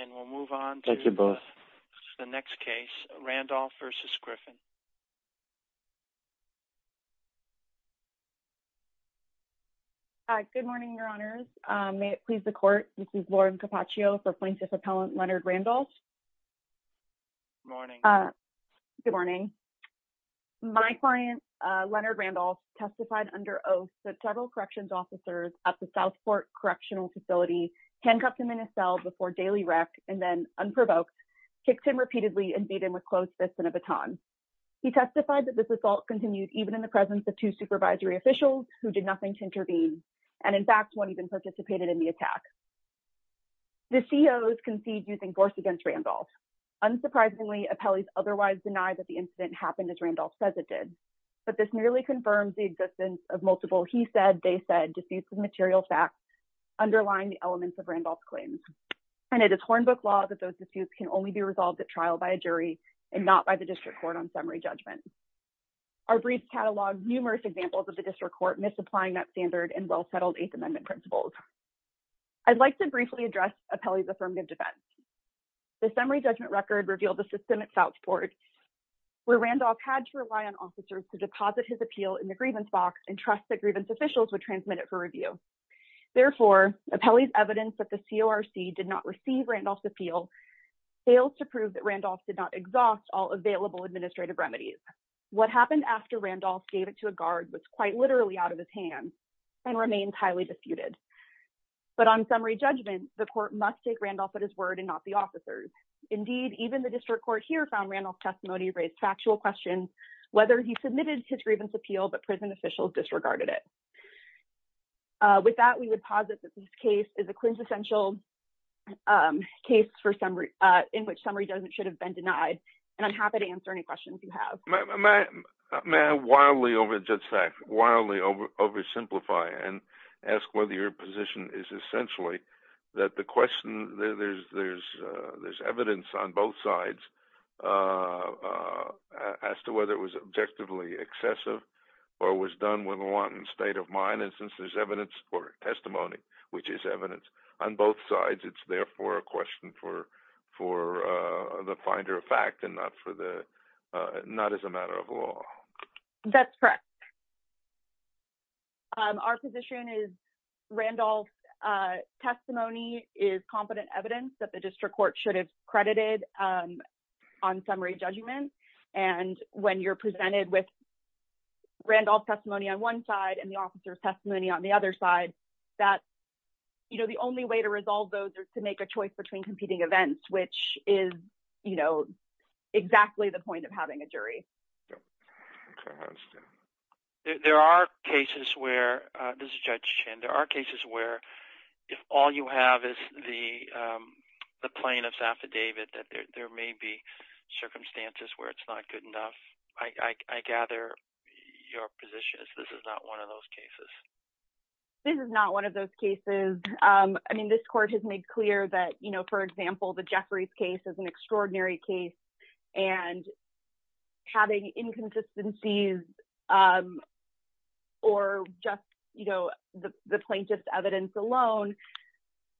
and we'll move on to the next case Randolph v. Griffin hi good morning your honors um may it please the court this is Lauren Cappaccio for plaintiff appellant Leonard Randolph morning uh good morning my client uh Leonard Randolph testified under oath that several corrections officers at the Southport Correctional Facility handcuffed him in a cell before daily rec and then unprovoked kicked him repeatedly and beat him with closed fists and a baton he testified that this assault continued even in the presence of two supervisory officials who did nothing to intervene and in fact won't even participated in the attack the COs concede using force against Randolph unsurprisingly appellees otherwise deny that the incident happened as Randolph says it did but this merely confirms the existence of multiple he said they facts underlying the elements of Randolph's claims and it is hornbook law that those disputes can only be resolved at trial by a jury and not by the district court on summary judgment our brief catalog numerous examples of the district court misapplying that standard and well-settled eighth amendment principles i'd like to briefly address appellee's affirmative defense the summary judgment record revealed the system at Southport where Randolph had to rely on officers to deposit his for review therefore appellee's evidence that the CORC did not receive Randolph's appeal fails to prove that Randolph did not exhaust all available administrative remedies what happened after Randolph gave it to a guard was quite literally out of his hands and remains highly disputed but on summary judgment the court must take Randolph at his word and not the officers indeed even the district court here found Randolph's testimony raised factual questions whether he submitted his grievance appeal but prison officials disregarded it uh with that we would posit that this case is a quintessential um case for summary uh in which summary doesn't should have been denied and i'm happy to answer any questions you have may i wildly over just fact wildly over oversimplify and ask whether your position is essentially that the question there's there's uh there's evidence on both sides uh uh as to whether it was objectively excessive or was done with one state of mind and since there's evidence or testimony which is evidence on both sides it's therefore a question for for uh the finder of fact and not for the uh not as a matter of law that's correct um our position is Randolph uh testimony is competent evidence that the district court should have credited um on summary judgment and when you're presented with Randolph's testimony on one side and the officer's testimony on the other side that you know the only way to resolve those is to make a choice between competing events which is you know exactly the point of having a jury there are cases where uh this is judge chin there are cases where if all you have is the um the plaintiff's affidavit that there may be circumstances where it's not good enough i i gather your position is this is not one of those cases this is not one of those cases um i mean this court has made clear that you know for example the jeffrey's case is an extraordinary case and having inconsistencies um or just you know the the plaintiff's evidence alone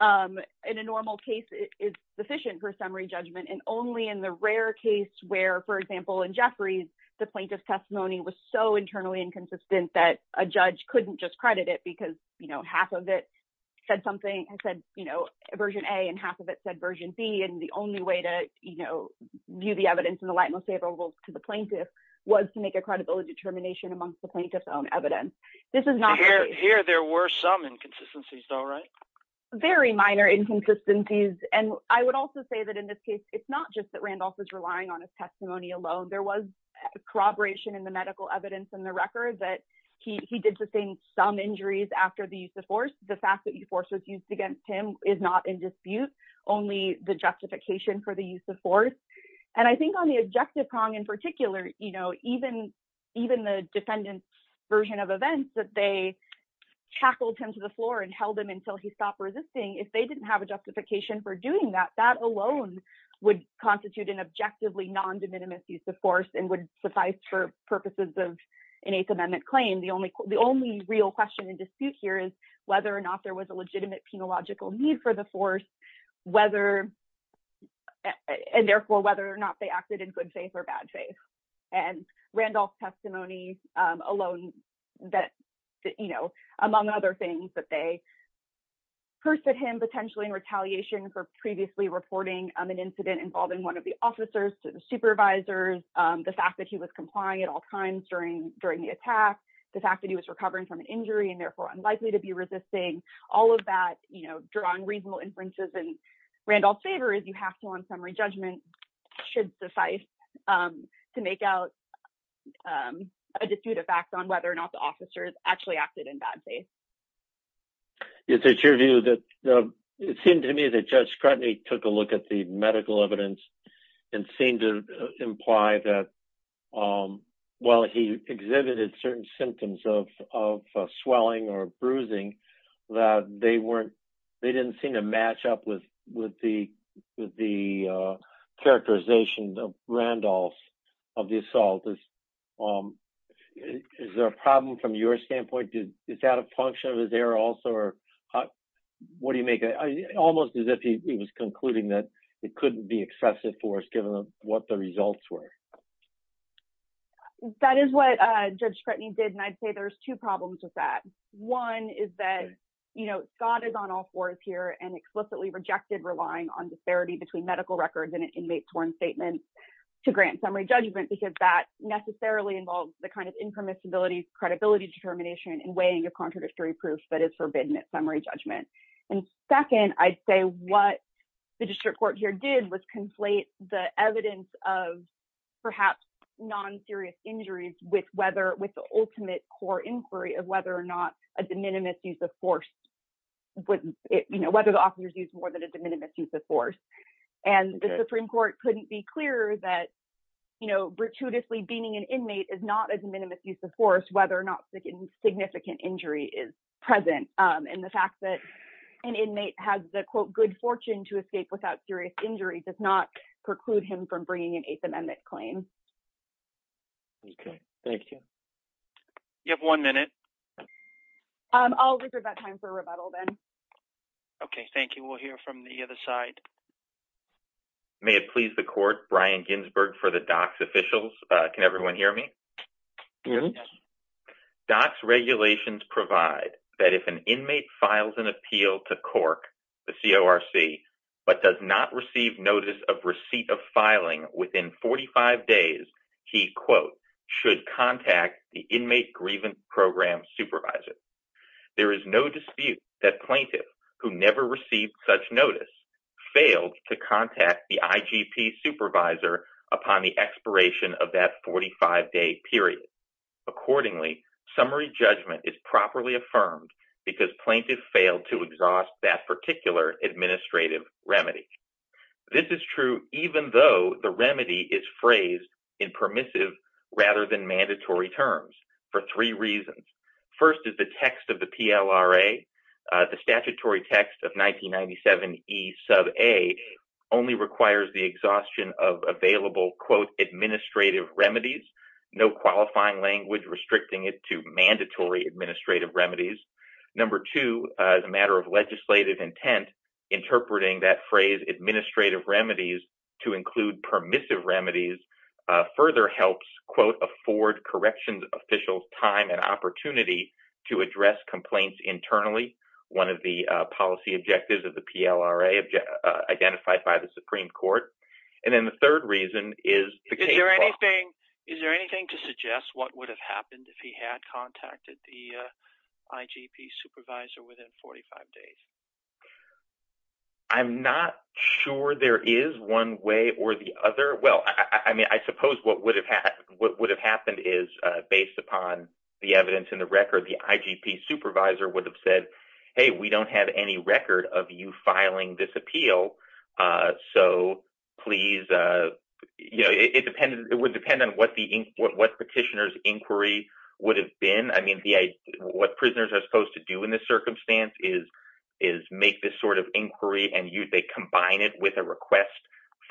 um in a normal case is sufficient for summary judgment and only in the rare case where for example in jeffrey's the plaintiff's testimony was so internally inconsistent that a judge couldn't just credit it because you know half of it said something i said you know version a and half of it said version b and the only way to you know view the evidence in the light most favorable to the plaintiff was to make a credibility determination amongst the plaintiff's own this is not here there were some inconsistencies though right very minor inconsistencies and i would also say that in this case it's not just that randolph is relying on his testimony alone there was corroboration in the medical evidence in the record that he he did sustain some injuries after the use of force the fact that you force was used against him is not in dispute only the justification for the use of force and i think on the objective prong in particular you know even even the defendant's version of events that they tackled him to the floor and held him until he stopped resisting if they didn't have a justification for doing that that alone would constitute an objectively non-de minimis use of force and would suffice for purposes of an eighth amendment claim the only the only real question and dispute here is whether or not there was a legitimate penological need for the force whether and therefore whether or not they acted in good faith or bad faith and randolph's testimony alone that you know among other things that they cursed at him potentially in retaliation for previously reporting on an incident involving one of the officers to the supervisors the fact that he was complying at all times during during the attack the fact that he was recovering from an injury and therefore unlikely to be resisting all of that you know drawing reasonable inferences and randolph's is you have to on summary judgment should suffice to make out a dispute of facts on whether or not the officers actually acted in bad faith is it's your view that it seemed to me that judge scrutiny took a look at the medical evidence and seemed to imply that while he exhibited certain symptoms of of swelling or bruising that they weren't they didn't seem to match up with with the with the uh characterization of randolph's of the assault is um is there a problem from your standpoint did is that a function of his error also or what do you make it almost as if he was concluding that it couldn't be excessive force given what the results were that is what uh judge scrutiny did and i'd say there's two problems with one is that you know scott is on all fours here and explicitly rejected relying on disparity between medical records and an inmate torn statement to grant summary judgment because that necessarily involves the kind of impermissibility credibility determination and weighing of contradictory proof that is forbidden at summary judgment and second i'd say what the district court here did was conflate the evidence of perhaps non-serious injuries with with the ultimate core inquiry of whether or not a de minimis use of force would you know whether the officers used more than a de minimis use of force and the supreme court couldn't be clearer that you know gratuitously beaming an inmate is not a de minimis use of force whether or not significant injury is present um and the fact that an inmate has the quote good fortune to escape without serious injury does not preclude him from bringing an eighth amendment claim okay thank you you have one minute um i'll reserve that time for a rebuttal then okay thank you we'll hear from the other side may it please the court brian ginsburg for the docs officials uh can everyone hear me yes docs regulations provide that if an inmate files an filing within 45 days he quote should contact the inmate grievance program supervisor there is no dispute that plaintiff who never received such notice failed to contact the igp supervisor upon the expiration of that 45-day period accordingly summary judgment is properly affirmed because plaintiff failed to exhaust that particular administrative remedy this is true even though the remedy is phrased in permissive rather than mandatory terms for three reasons first is the text of the plra the statutory text of 1997 e sub a only requires the exhaustion of available quote administrative remedies no qualifying language restricting it to mandatory administrative remedies number two as a matter of legislative intent interpreting that phrase administrative remedies to include permissive remedies further helps quote afford corrections officials time and opportunity to address complaints internally one of the policy objectives of the plra identified by the supreme court and then the third reason is is there anything is there anything to suggest what would have happened if he had contacted the sure there is one way or the other well i mean i suppose what would have had what would have happened is uh based upon the evidence in the record the igp supervisor would have said hey we don't have any record of you filing this appeal uh so please uh you know it depended it would depend on what the what petitioner's inquiry would have been i mean the what prisoners are is is make this sort of inquiry and you they combine it with a request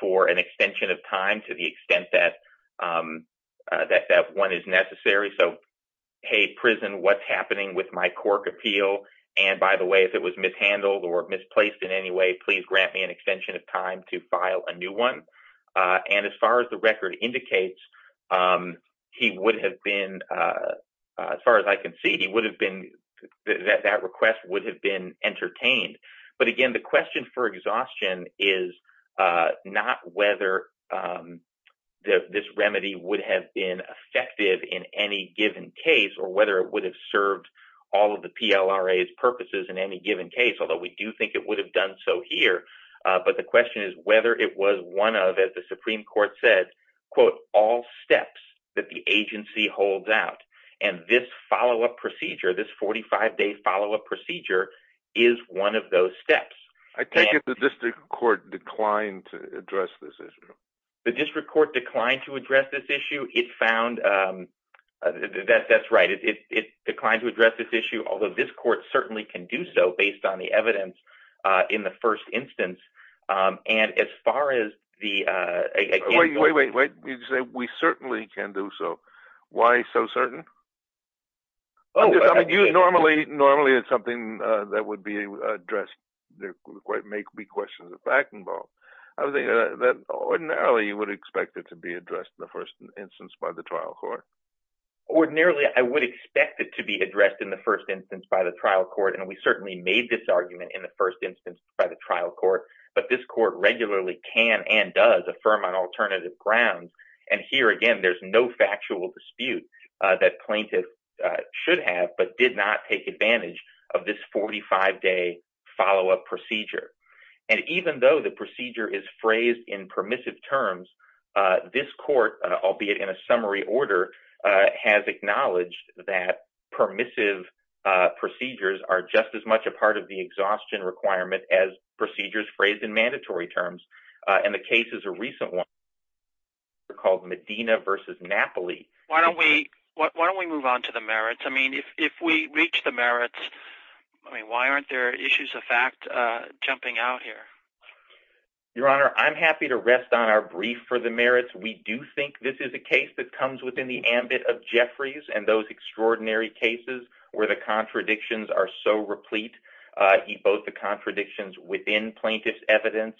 for an extension of time to the extent that um that that one is necessary so hey prison what's happening with my cork appeal and by the way if it was mishandled or misplaced in any way please grant me an extension of time to file a new one uh and as far as the record indicates um he would have been uh as far as i can see he would have been that that request would have been entertained but again the question for exhaustion is uh not whether um this remedy would have been effective in any given case or whether it would have served all of the plra's purposes in any given case although we do think it would have done so here uh but the question is whether it was one of as supreme court said quote all steps that the agency holds out and this follow-up procedure this 45-day follow-up procedure is one of those steps i take it the district court declined to address this issue the district court declined to address this issue it found um that that's right it declined to address this issue although this court certainly can do so based on the wait wait wait you say we certainly can do so why so certain oh i mean you normally normally it's something uh that would be addressed there quite make be questions of backing ball i was thinking that ordinarily you would expect it to be addressed in the first instance by the trial court ordinarily i would expect it to be addressed in the first instance by the trial court and we certainly made this argument in the first instance by the trial court but this court regularly can and does affirm on alternative grounds and here again there's no factual dispute uh that plaintiff should have but did not take advantage of this 45-day follow-up procedure and even though the procedure is phrased in permissive terms uh this court albeit in a summary order uh has acknowledged that permissive uh procedures are just as much a part of the phrase in mandatory terms uh and the case is a recent one called medina versus napoli why don't we what why don't we move on to the merits i mean if if we reach the merits i mean why aren't there issues of fact uh jumping out here your honor i'm happy to rest on our brief for the merits we do think this is a case that comes within the ambit of jeffries and those extraordinary cases where contradictions are so replete uh he both the contradictions within plaintiff's evidence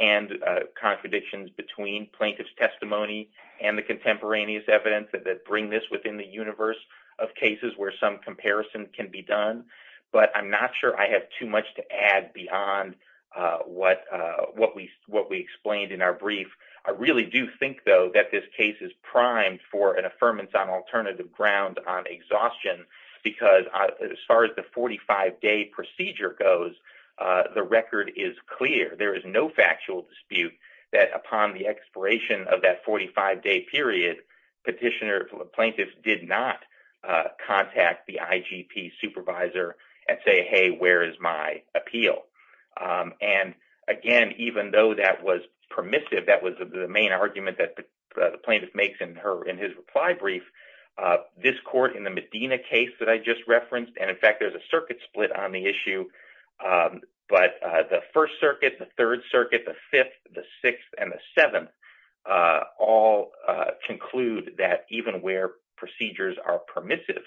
and contradictions between plaintiff's testimony and the contemporaneous evidence that bring this within the universe of cases where some comparison can be done but i'm not sure i have too much to add beyond uh what uh what we what we explained in our brief i really do think though that this case is primed for an affirmance on alternative ground on exhaustion because as far as the 45 day procedure goes uh the record is clear there is no factual dispute that upon the expiration of that 45 day period petitioner plaintiffs did not uh contact the igp supervisor and say hey where is my appeal um and again even though that was permissive that was the main argument that the plaintiff makes in her in his reply brief uh this court in the medina case that i just referenced and in fact there's a circuit split on the issue um but uh the first circuit the third circuit the fifth the sixth and the seven uh all uh conclude that even where procedures are permissive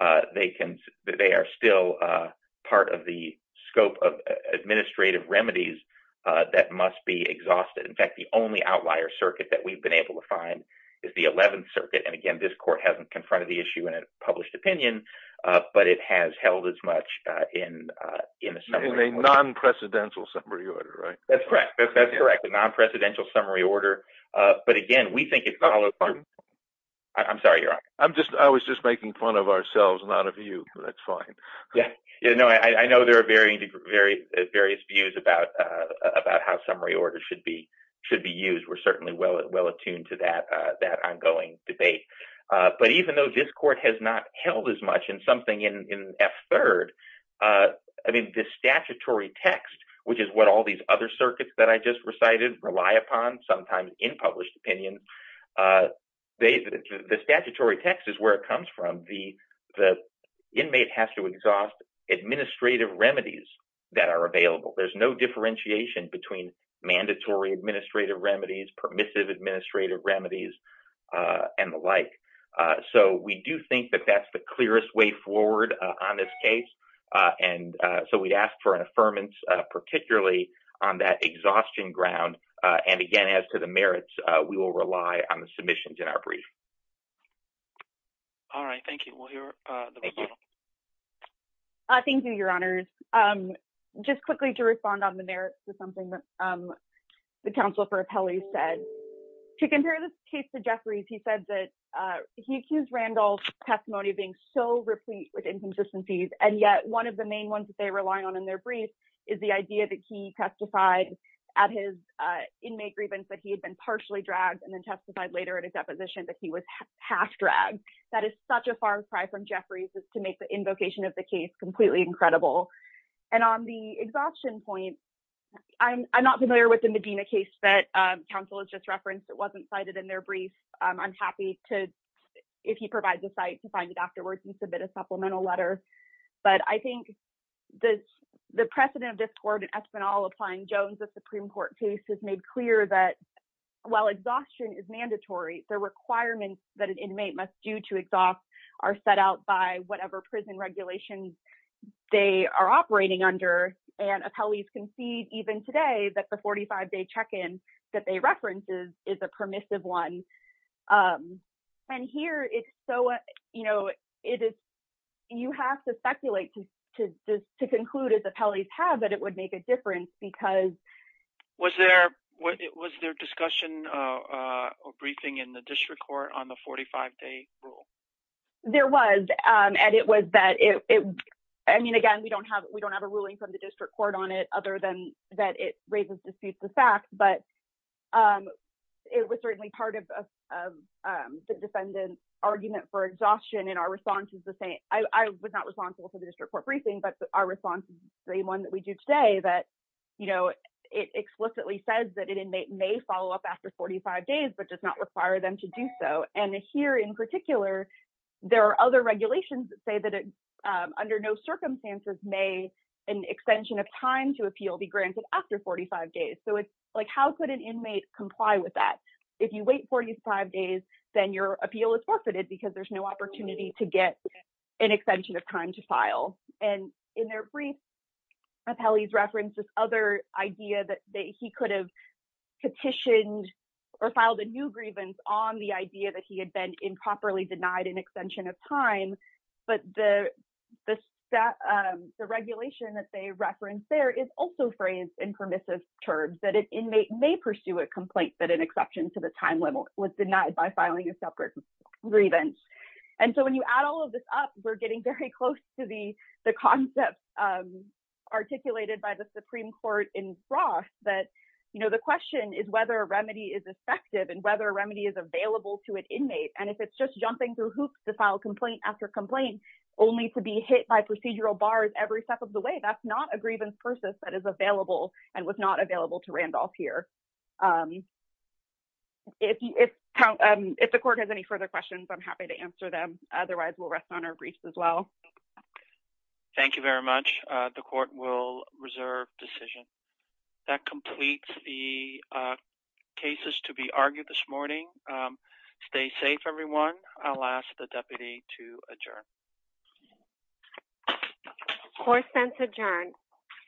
uh they can they are still uh part of the scope of administrative remedies uh that must be exhausted in fact the only outlier circuit that we've been able to find is the 11th circuit and again this court hasn't confronted the issue in a published opinion uh but it has held as much uh in uh in a non-precedential summary order right that's correct that's correct the non-precedential summary order uh but again we think it's not i'm sorry you're right i'm just i was just making fun of ourselves not of you that's fine yeah you know i i know there are very various views about uh about how summary order should be should be used we're certainly well well attuned to that uh that ongoing debate uh but even though this court has not held as much in something in in f third uh i mean the statutory text which is what all these other circuits that i just recited rely upon sometimes in published opinion uh they the statutory text is where it comes from the the inmate has to exhaust administrative remedies that are available there's no differentiation between mandatory administrative remedies permissive administrative remedies uh and the like uh so we do think that that's the clearest way forward on this case uh and uh so we'd ask for an affirmance uh particularly on that exhaustion ground uh and all right thank you we'll hear uh thank you uh thank you your honors um just quickly to respond on the merits to something that um the counsel for appellees said to compare this case to jeffrey's he said that uh he accused randall's testimony being so replete with inconsistencies and yet one of the main ones that they rely on in their brief is the idea that he testified at his uh inmate grievance that he had been partially dragged and then testified later in a deposition that he was half dragged that is such a far cry from jeffrey's is to make the invocation of the case completely incredible and on the exhaustion point i'm i'm not familiar with the medina case that um council has just referenced it wasn't cited in their brief i'm happy to if he provides a site to find it afterwards and submit a supplemental letter but i think the the precedent of discord and espanol applying jones the supreme court case made clear that while exhaustion is mandatory the requirements that an inmate must do to exhaust are set out by whatever prison regulations they are operating under and appellees concede even today that the 45-day check-in that they reference is is a permissive one um and here it's so you know it is you have to speculate to just to conclude as appellees have that it would make a difference because was there what it was their discussion uh uh or briefing in the district court on the 45-day rule there was um and it was that it i mean again we don't have we don't have a ruling from the district court on it other than that it raises disputes the fact but um it was certainly part of the defendant's argument for exhaustion and our response is the same i i was not responsible for the district court briefing but our response is the same one that we do today that you know it explicitly says that an inmate may follow up after 45 days but does not require them to do so and here in particular there are other regulations that say that under no circumstances may an extension of time to appeal be granted after 45 days so it's like how could an inmate comply with that if you wait 45 days then your appeal is forfeited because there's no opportunity to get an extension of time to file and in their brief appellees referenced this other idea that he could have petitioned or filed a new grievance on the idea that he had been improperly denied an extension of time but the the set um the regulation that they referenced there is also phrased in permissive terms that an inmate may pursue a complaint that an exception to the time was denied by filing a separate grievance and so when you add all of this up we're getting very close to the the concept um articulated by the supreme court in frost that you know the question is whether a remedy is effective and whether a remedy is available to an inmate and if it's just jumping through hoops to file complaint after complaint only to be hit by procedural bars every step of the way that's not a grievance process that is available and was not available to if if the court has any further questions i'm happy to answer them otherwise we'll rest on our briefs as well thank you very much uh the court will reserve decision that completes the cases to be argued this morning um stay safe everyone i'll ask the deputy to adjourn four cents adjourned